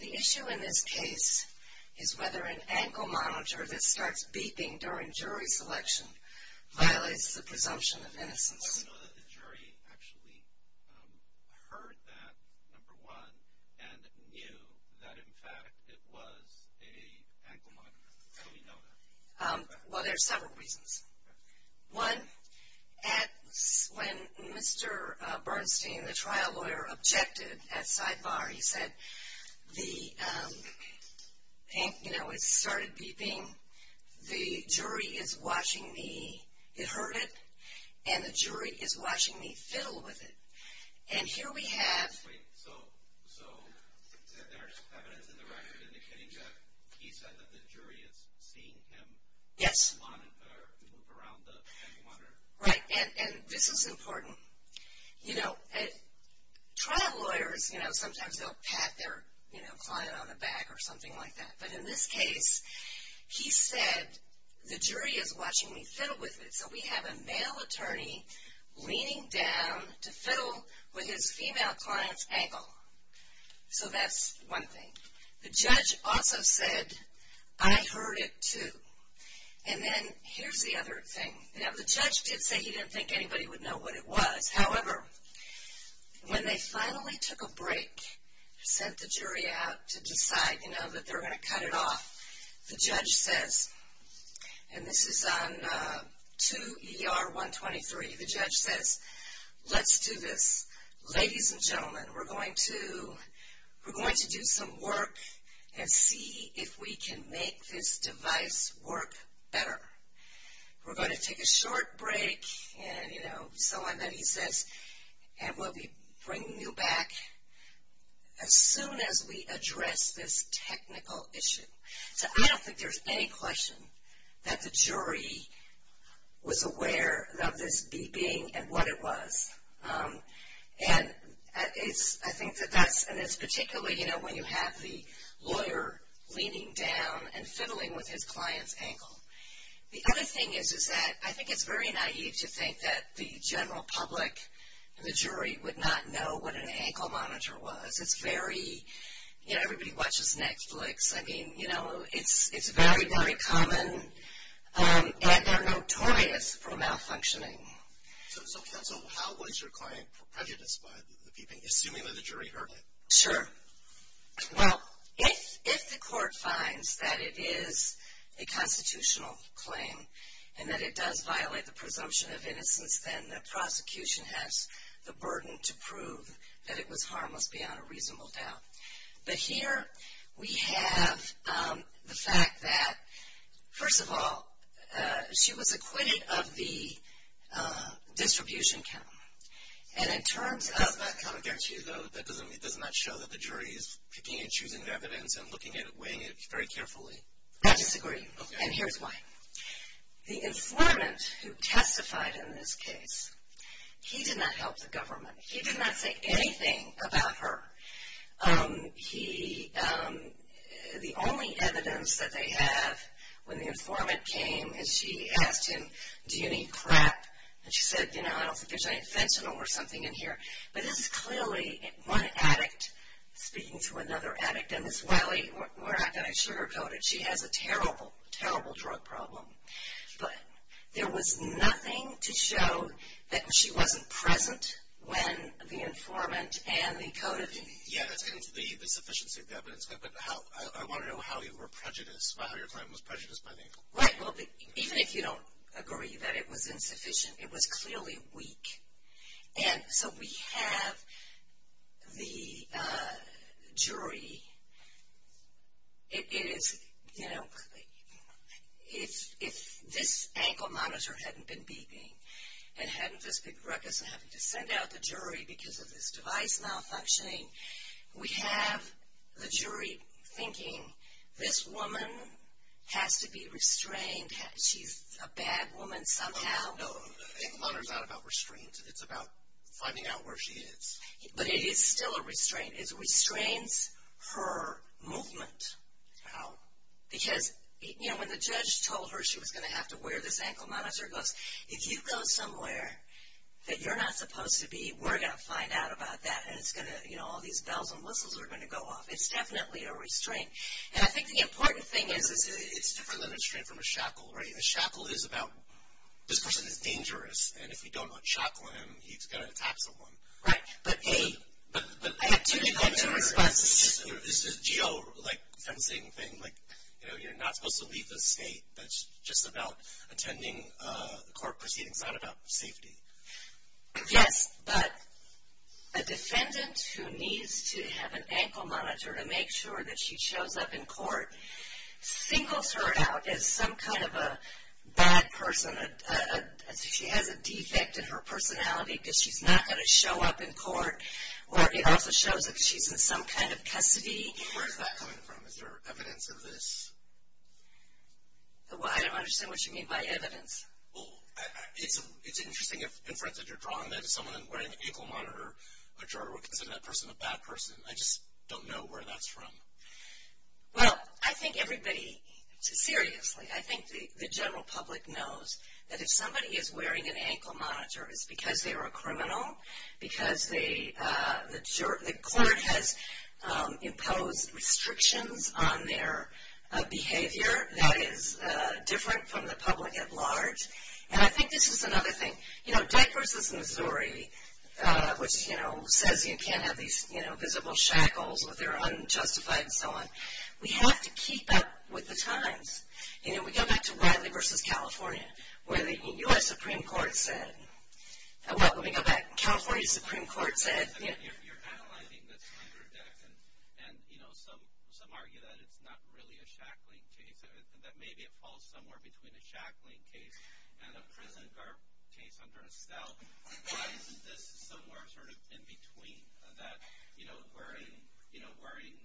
The issue in this case is whether an ankle monitor that starts beeping during jury selection violates the presumption of innocence. How do you know that the jury actually heard that, number one, and knew that in fact it was an ankle monitor? How do you know that? Well, there are several reasons. One, when Mr. Bernstein, the trial lawyer, objected at sidebar, he said, you know, it started beeping, the jury is watching me. It heard it, and the jury is watching me fiddle with it. And here we have... Wait, so there's evidence in the record indicating that he said that the jury is seeing him move around the ankle monitor? Right, and this is important. You know, trial lawyers, you know, sometimes they'll pat their, you know, client on the back or something like that. But in this case, he said, the jury is watching me fiddle with it. So we have a male attorney leaning down to fiddle with his female client's ankle. So that's one thing. The judge also said, I heard it too. And then here's the other thing. Now, the judge did say he didn't think anybody would know what it was. However, when they finally took a break, sent the jury out to decide, you know, that they're going to cut it off, the judge says, and this is on 2 ER 123, the judge says, let's do this. Ladies and gentlemen, we're going to do some work and see if we can make this device work better. We're going to take a short break and, you know, so on, then he says, and we'll be bringing you back as soon as we address this technical issue. So I don't think there's any question that the jury was aware of this beeping and what it was. And I think that that's, and it's particularly, you know, when you have the lawyer leaning down and fiddling with his client's ankle. The other thing is, is that I think it's very naive to think that the general public, the jury would not know what an ankle monitor was. It's very, you know, everybody watches Netflix. I mean, you know, it's very, very common. And they're notorious for malfunctioning. So how was your client prejudiced by the beeping, assuming that the jury heard it? Sure. Well, if the court finds that it is a constitutional claim and that it does violate the presumption of innocence, then the prosecution has the burden to prove that it was harmless beyond a reasonable doubt. But here we have the fact that, first of all, she was acquitted of the distribution count. And in terms of the... That does not count against you, though. That does not show that the jury is picking and choosing evidence and looking at it, weighing it very carefully. I disagree. And here's why. The informant who testified in this case, he did not help the government. He did not say anything about her. He... The only evidence that they have when the informant came and she asked him, do you need crap? And she said, you know, I don't think there's any fentanyl or something in here. But this is clearly one addict speaking to another addict. And Ms. Wiley, we're not going to sugarcoat it. She has a terrible, terrible drug problem. But there was nothing to show that she wasn't present when the informant and the code of... Yes, and the sufficiency of the evidence. But how... I want to know how you were prejudiced, how your client was prejudiced by the... Right. Well, even if you don't agree that it was insufficient, it was clearly weak. And so we have the jury... It is, you know, if this ankle monitor hadn't been beeping and hadn't this big ruckus of having to send out the jury because of this device malfunctioning, we have the jury thinking this woman has to be restrained. She's a bad woman somehow. No, no, no. Ankle monitor is not about restraint. It's about finding out where she is. But it is still a restraint. It restrains her movement. How? Because, you know, when the judge told her she was going to have to wear this ankle monitor, it goes, if you go somewhere that you're not supposed to be, we're going to find out about that and it's going to, you know, all these bells and whistles are going to go off. It's definitely a restraint. And I think the important thing is it's different than a restraint from a shackle, right? A shackle is about this person is dangerous, and if you don't shackle him, he's going to attack someone. Right. I have two different responses. Is this a geo-like fencing thing? Like, you know, you're not supposed to leave the state. That's just about attending court proceedings. It's not about safety. Yes, but a defendant who needs to have an ankle monitor to make sure that she shows up in court singles her out as some kind of a bad person. She has a defect in her personality because she's not going to show up in court, or it also shows that she's in some kind of custody. Where is that coming from? Is there evidence of this? Well, I don't understand what you mean by evidence. Well, it's interesting, in front that you're drawing that, if someone is wearing an ankle monitor, a juror would consider that person a bad person. I just don't know where that's from. Well, I think everybody, seriously, I think the general public knows that if somebody is wearing an ankle monitor, it's because they are a criminal, because the court has imposed restrictions on their behavior that is different from the public at large. And I think this is another thing. You know, Deck versus Missouri, which, you know, says you can't have these visible shackles if they're unjustified and so on. We have to keep up with the times. You know, we go back to Wiley versus California, where the U.S. Supreme Court said, well, let me go back, California Supreme Court said. You're analyzing this under Deck, and, you know, some argue that it's not really a shackling case, that maybe it falls somewhere between a shackling case and a prison case under Estelle. Why isn't this somewhere sort of in between that, you know, wearing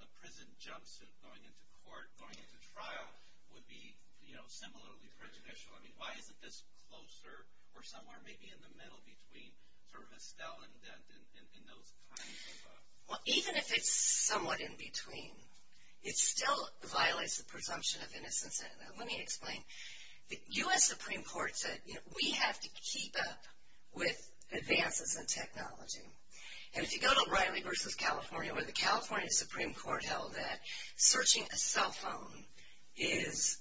a prison jumpsuit going into court, going into trial, would be, you know, similarly prejudicial? I mean, why isn't this closer or somewhere maybe in the middle between sort of Estelle and Deck and those kinds of. Well, even if it's somewhat in between, it still violates the presumption of innocence. Let me explain. The U.S. Supreme Court said, you know, we have to keep up with advances in technology. And if you go to Wiley versus California, where the California Supreme Court held that searching a cell phone is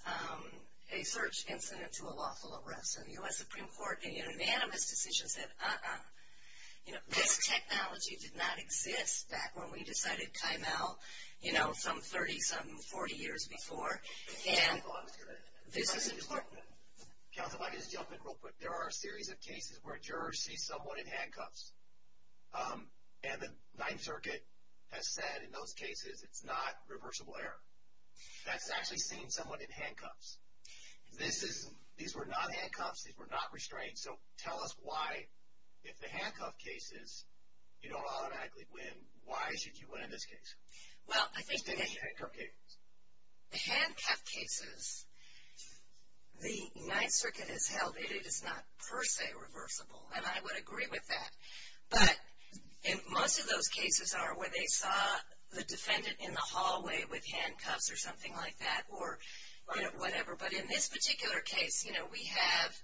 a search incident to a lawful arrest. And the U.S. Supreme Court, in an unanimous decision, said, uh-uh. You know, this technology did not exist back when we decided to time out, you know, some 30, some 40 years before. And this is important. Counsel, if I could just jump in real quick. There are a series of cases where a juror sees someone in handcuffs. And the Ninth Circuit has said in those cases it's not reversible error. That's actually seeing someone in handcuffs. These were not handcuffs. These were not restraints. So tell us why, if the handcuff cases you don't automatically win, why should you win in this case? Well, I think the handcuff cases, the Ninth Circuit has held it is not per se reversible. And I would agree with that. But most of those cases are where they saw the defendant in the hallway with handcuffs or something like that or whatever. But in this particular case, you know, we have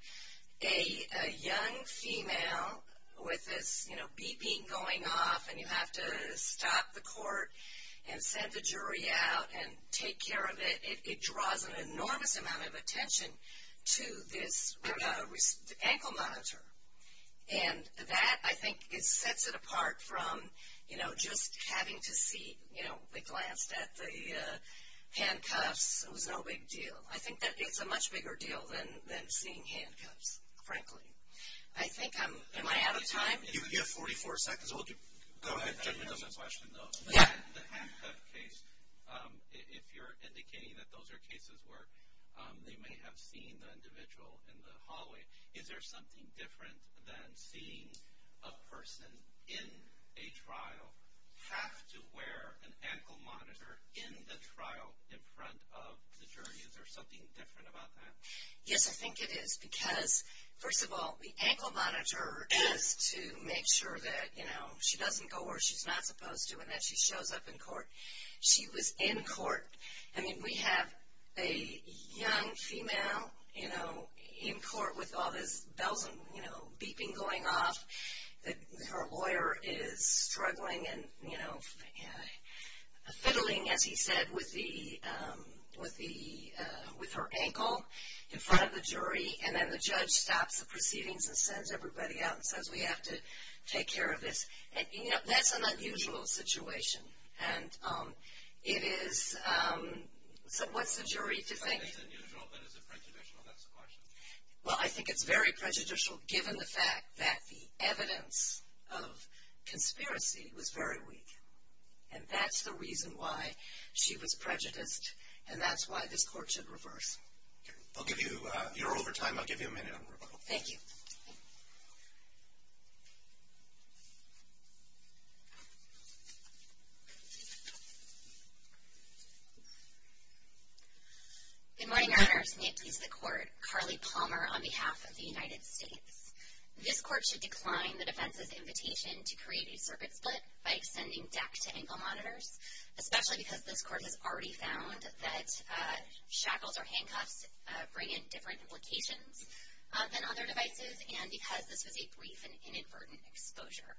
a young female with this, you know, and you have to stop the court and send the jury out and take care of it. It draws an enormous amount of attention to this ankle monitor. And that, I think, sets it apart from, you know, just having to see, you know, they glanced at the handcuffs, it was no big deal. I think it's a much bigger deal than seeing handcuffs, frankly. I think I'm, am I out of time? You have 44 seconds. Go ahead. I have a question, though. The handcuff case, if you're indicating that those are cases where they may have seen the individual in the hallway, is there something different than seeing a person in a trial have to wear an ankle monitor in the trial in front of the jury? Is there something different about that? Yes, I think it is. Because, first of all, the ankle monitor is to make sure that, you know, she doesn't go where she's not supposed to and that she shows up in court. She was in court. I mean, we have a young female, you know, in court with all this bells and, you know, beeping going off. Her lawyer is struggling and, you know, fiddling, as he said, with her ankle in front of the jury. And then the judge stops the proceedings and sends everybody out and says, we have to take care of this. And, you know, that's an unusual situation. And it is, so what's the jury to think? It's unusual, but is it prejudicial? That's the question. Well, I think it's very prejudicial, given the fact that the evidence of conspiracy was very weak. And that's the reason why she was prejudiced, and that's why this court should reverse. I'll give you your overtime. I'll give you a minute on rebuttal. Thank you. Good morning, Your Honors. And may it please the Court. Carly Palmer on behalf of the United States. This court should decline the defense's invitation to create a circuit split by extending deck to ankle monitors, especially because this court has already found that shackles or handcuffs bring in different implications than other devices, and because this was a brief and inadvertent exposure.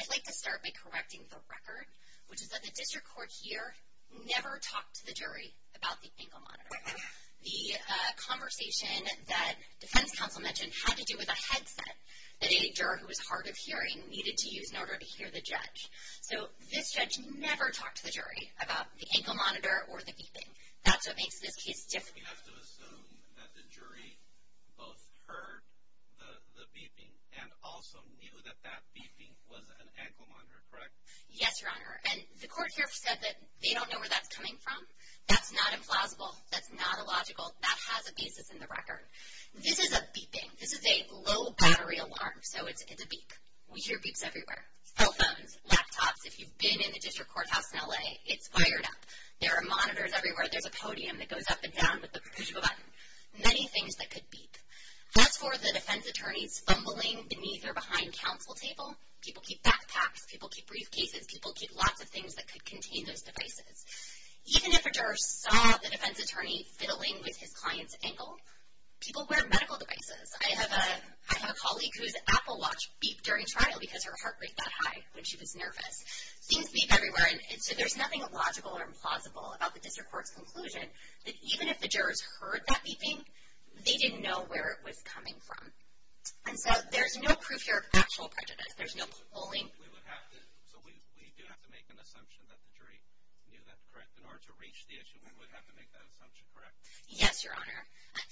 I'd like to start by correcting the record, which is that the district court here never talked to the jury about the ankle monitor. The conversation that defense counsel mentioned had to do with a headset that a juror who was hard of hearing needed to use in order to hear the judge. So this judge never talked to the jury about the ankle monitor or the beeping. That's what makes this case different. We have to assume that the jury both heard the beeping and also knew that that beeping was an ankle monitor, correct? Yes, Your Honor. And the court here said that they don't know where that's coming from. That's not implausible. That's not illogical. That has a basis in the record. This is a beeping. This is a low battery alarm. So it's a beep. We hear beeps everywhere. Cell phones, laptops. If you've been in the district courthouse in L.A., it's fired up. There are monitors everywhere. There's a podium that goes up and down with the push of a button. Many things that could beep. As for the defense attorney's fumbling beneath or behind counsel table, people keep backpacks, people keep briefcases, people keep lots of things that could contain those devices. Even if a juror saw the defense attorney fiddling with his client's ankle, people wear medical devices. I have a colleague whose Apple Watch beeped during trial because her heart rate got high when she was nervous. Things beep everywhere. So there's nothing illogical or implausible about the district court's conclusion that even if the jurors heard that beeping, they didn't know where it was coming from. And so there's no proof here of actual prejudice. There's no polling. So we do have to make an assumption that the jury knew that, correct? In order to reach the issue, we would have to make that assumption, correct? Yes, Your Honor.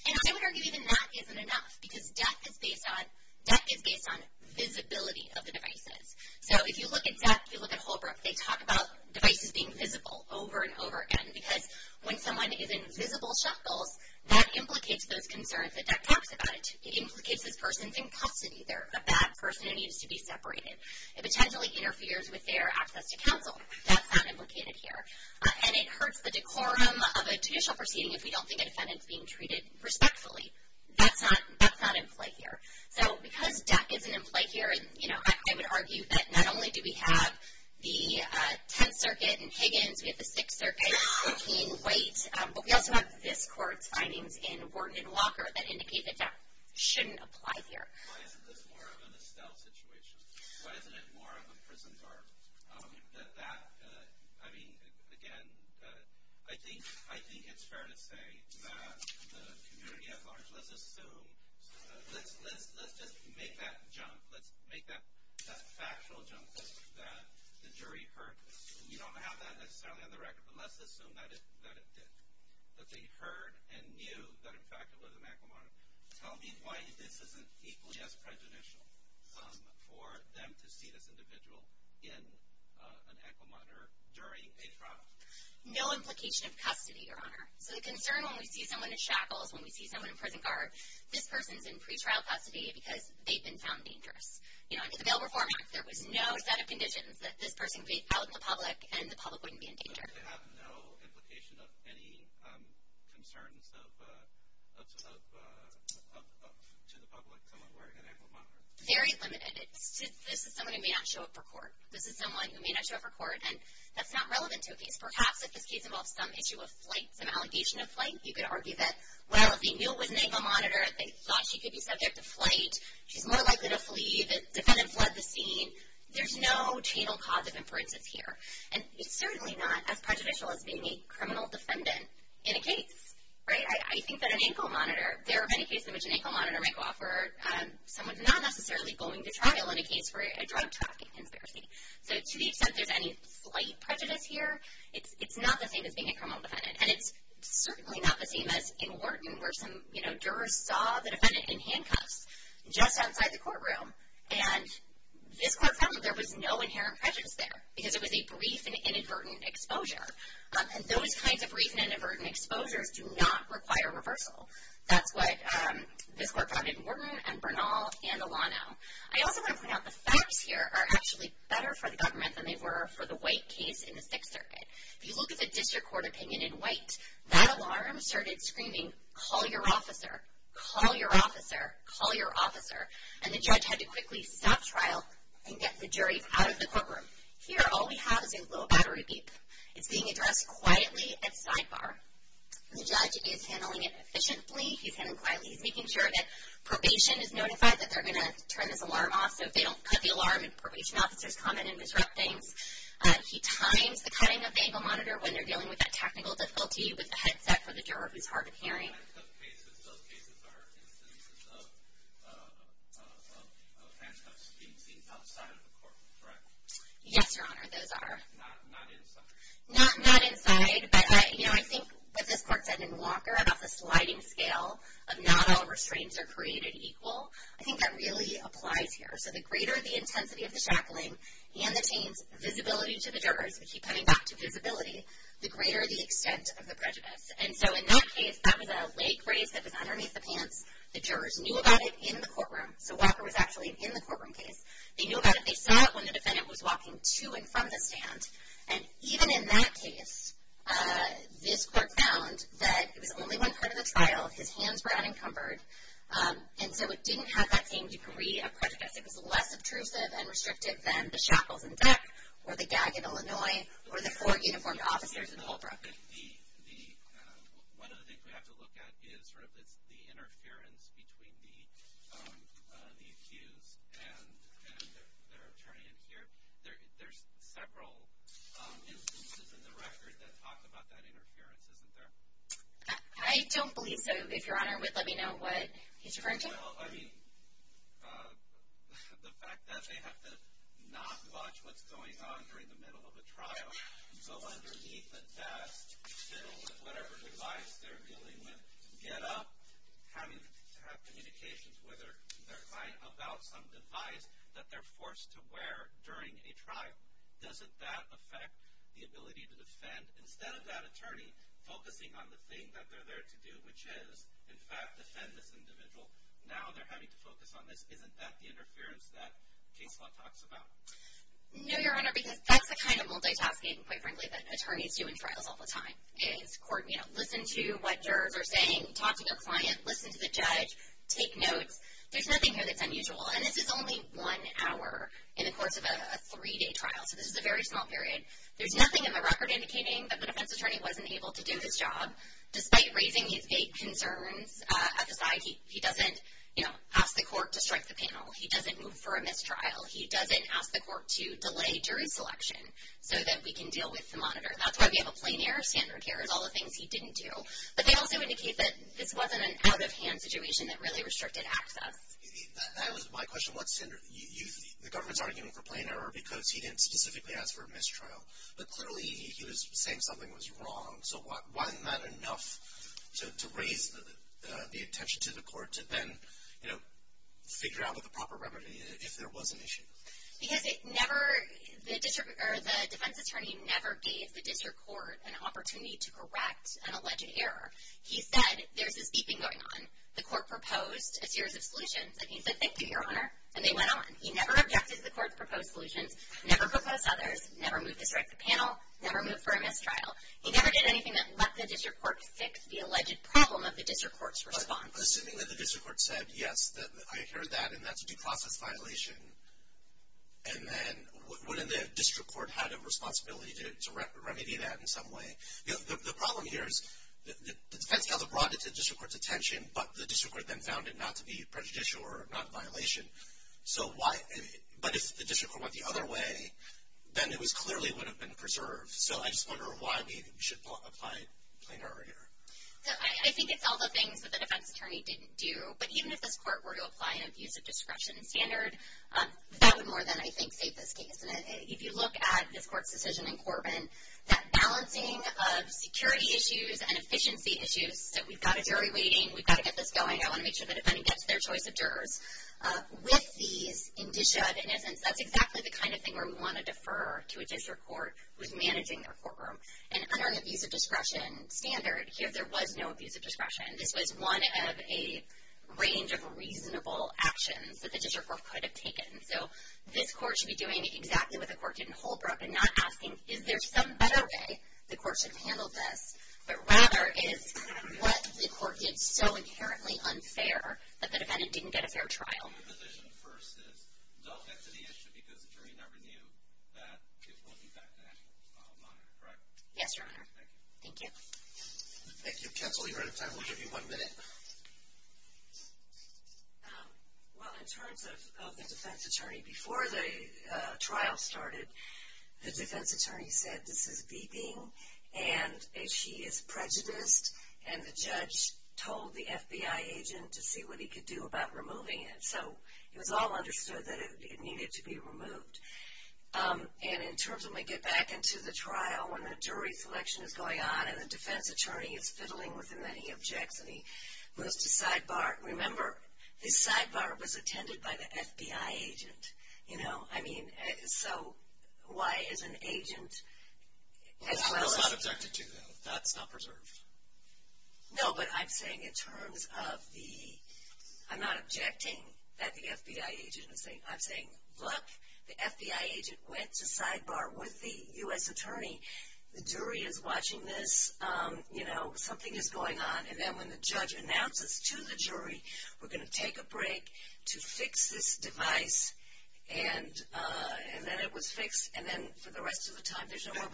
And I would argue that even that isn't enough because death is based on visibility of the devices. So if you look at death, if you look at Holbrook, they talk about devices being visible over and over again because when someone is in visible shuffles, that implicates those concerns that DEC talks about. It implicates this person's in custody. They're a bad person who needs to be separated. It potentially interferes with their access to counsel. That's not implicated here. And it hurts the decorum of a judicial proceeding if we don't think a defendant is being treated respectfully. That's not in play here. So because death isn't in play here, you know, I would argue that not only do we have the Tenth Circuit and Higgins, we have the Sixth Circuit, McCain, White, but we also have this court's findings in Ward and Walker that indicate that death shouldn't apply here. Why isn't this more of an Estelle situation? Why isn't it more of a prison guard? That, I mean, again, I think it's fair to say that the community at large, let's assume, let's just make that jump. Let's make that factual jump that the jury heard. We don't have that necessarily on the record, but let's assume that it did, that they heard and knew that, in fact, Elizabeth McElmurray told me why this isn't equally as prejudicial for them to see this individual in an aquamonitor during a trial. No implication of custody, Your Honor. So the concern when we see someone in shackles, when we see someone in prison guard, this person's in pretrial custody because they've been found dangerous. You know, under the Bail Reform Act, there was no set of conditions that this person could be out in the public and the public wouldn't be in danger. Does it have no implication of any concerns of, to the public, someone wearing an aquamonitor? Very limited. This is someone who may not show up for court. This is someone who may not show up for court, and that's not relevant to a case. Perhaps if this case involves some issue of flight, some allegation of flight, you could argue that, well, if they knew it was an aquamonitor, they thought she could be subject to flight, she's more likely to flee, the defendant fled the scene. There's no channel cause of inferences here. And it's certainly not as prejudicial as being a criminal defendant in a case, right? I think that an aquamonitor, there are many cases in which an aquamonitor may go off where someone's not necessarily going to trial in a case where a drug trafficking conspiracy. So to the extent there's any flight prejudice here, it's not the same as being a criminal defendant. And it's certainly not the same as in Wharton where some, you know, jurors saw the defendant in handcuffs just outside the courtroom, and this court found that there was no inherent prejudice there because it was a brief and inadvertent exposure. And those kinds of brief and inadvertent exposures do not require reversal. That's what this court found in Wharton and Bernal and Alano. I also want to point out the facts here are actually better for the government than they were for the White case in the Sixth Circuit. If you look at the district court opinion in White, that alarm started screaming, call your officer, call your officer, call your officer, and the judge had to quickly stop trial and get the jury out of the courtroom. Here all we have is a little battery beep. It's being addressed quietly at sidebar. The judge is handling it efficiently. He's handling it quietly. He's making sure that probation is notified that they're going to turn this alarm off so if they don't cut the alarm and probation officers come in and disrupt things. He times the cutting of the aquamonitor when they're dealing with that technical difficulty with the headset for the juror who's hard of hearing. Those cases are instances of handcuffs being seen outside of the court, correct? Yes, Your Honor, those are. Not inside? Not inside, but I think what this court said in Walker about the sliding scale of not all restraints are created equal. I think that really applies here. So the greater the intensity of the shackling and the teens' visibility to the jurors, we keep coming back to visibility, the greater the extent of the prejudice. And so in that case, that was a leg raise that was underneath the pants. The jurors knew about it in the courtroom. So Walker was actually in the courtroom case. They knew about it. They saw it when the defendant was walking to and from the stand. And even in that case, this court found that it was only one part of the trial. His hands were unencumbered. And so it didn't have that same degree of prejudice. It was less obtrusive and restrictive than the shackles in DEC or the gag in Illinois or the four uniformed officers in Holbrook. One of the things we have to look at is sort of the interference between the accused and their attorney in here. There's several instances in the record that talk about that interference, isn't there? I don't believe so. If Your Honor would let me know what he's referring to. Well, I mean, the fact that they have to not watch what's going on during the middle of a trial. Go underneath a desk, fiddle with whatever device they're dealing with, get up, having to have communications with their client about some device that they're forced to wear during a trial. Doesn't that affect the ability to defend? Instead of that attorney focusing on the thing that they're there to do, which is, in fact, defend this individual, now they're having to focus on this. Isn't that the interference that case law talks about? No, Your Honor, because that's the kind of multitasking, quite frankly, that attorneys do in trials all the time is listen to what jurors are saying, talk to your client, listen to the judge, take notes. There's nothing here that's unusual. And this is only one hour in the course of a three-day trial, so this is a very small period. There's nothing in the record indicating that the defense attorney wasn't able to do his job. Despite raising these concerns at the side, he doesn't ask the court to strike the panel. He doesn't move for a mistrial. He doesn't ask the court to delay jury selection so that we can deal with the monitor. That's why we have a plain error standard here is all the things he didn't do. But they also indicate that this wasn't an out-of-hand situation that really restricted access. That was my question. The government's arguing for plain error because he didn't specifically ask for a mistrial, but clearly he was saying something was wrong. So wasn't that enough to raise the attention to the court to then, you know, figure out what the proper remedy is if there was an issue? Because the defense attorney never gave the district court an opportunity to correct an alleged error. He said there's this beeping going on. The court proposed a series of solutions, and he said thank you, Your Honor, and they went on. He never objected to the court's proposed solutions, never proposed others, never moved to strike the panel, never moved for a mistrial. He never did anything that let the district court fix the alleged problem of the district court's response. Assuming that the district court said, yes, I heard that, and that's a due process violation, and then wouldn't the district court have a responsibility to remedy that in some way? The problem here is the defense counsel brought it to the district court's attention, but the district court then found it not to be prejudicial or not a violation. But if the district court went the other way, then it clearly would have been preserved. So I just wonder why maybe we should apply plain error here. So I think it's all the things that the defense attorney didn't do. But even if this court were to apply an abuse of discretion standard, that would more than, I think, save this case. And if you look at this court's decision in Corbin, that balancing of security issues and efficiency issues, that we've got a jury waiting, we've got to get this going, I want to make sure the defendant gets their choice of jurors, with these indicia, in essence, that's exactly the kind of thing where we want to defer to a district court who is managing their courtroom. And under an abuse of discretion standard, here there was no abuse of discretion. This was one of a range of reasonable actions that the district court could have taken. So this court should be doing exactly what the court did in Holbrook and not asking is there some better way the court should handle this, but rather is what the court did so inherently unfair that the defendant didn't get a fair trial. So your position first is don't get to the issue because the jury never knew that it wasn't that bad of a monitor, correct? Yes, Your Honor. Thank you. Thank you. Thank you. Counsel, you're out of time. We'll give you one minute. Well, in terms of the defense attorney, before the trial started, the defense attorney said this is beeping and she is prejudiced, and the judge told the FBI agent to see what he could do about removing it. So it was all understood that it needed to be removed. And in terms of when we get back into the trial when the jury selection is going on and the defense attorney is fiddling with him and he objects and he goes to sidebar. Remember, this sidebar was attended by the FBI agent, you know. I mean, so why is an agent as well as... No, but I'm saying in terms of the... I'm not objecting that the FBI agent is saying... I'm saying, look, the FBI agent went to sidebar with the U.S. attorney. The jury is watching this. You know, something is going on. And then when the judge announces to the jury, we're going to take a break to fix this device. And then it was fixed. And then for the rest of the time there's no more...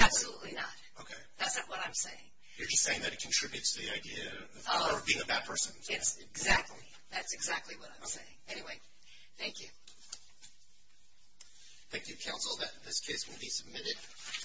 Absolutely not. Okay. That's not what I'm saying. You're just saying that it contributes to the idea of being a bad person. Exactly. That's exactly what I'm saying. Anyway, thank you. Thank you, counsel. This case will be submitted.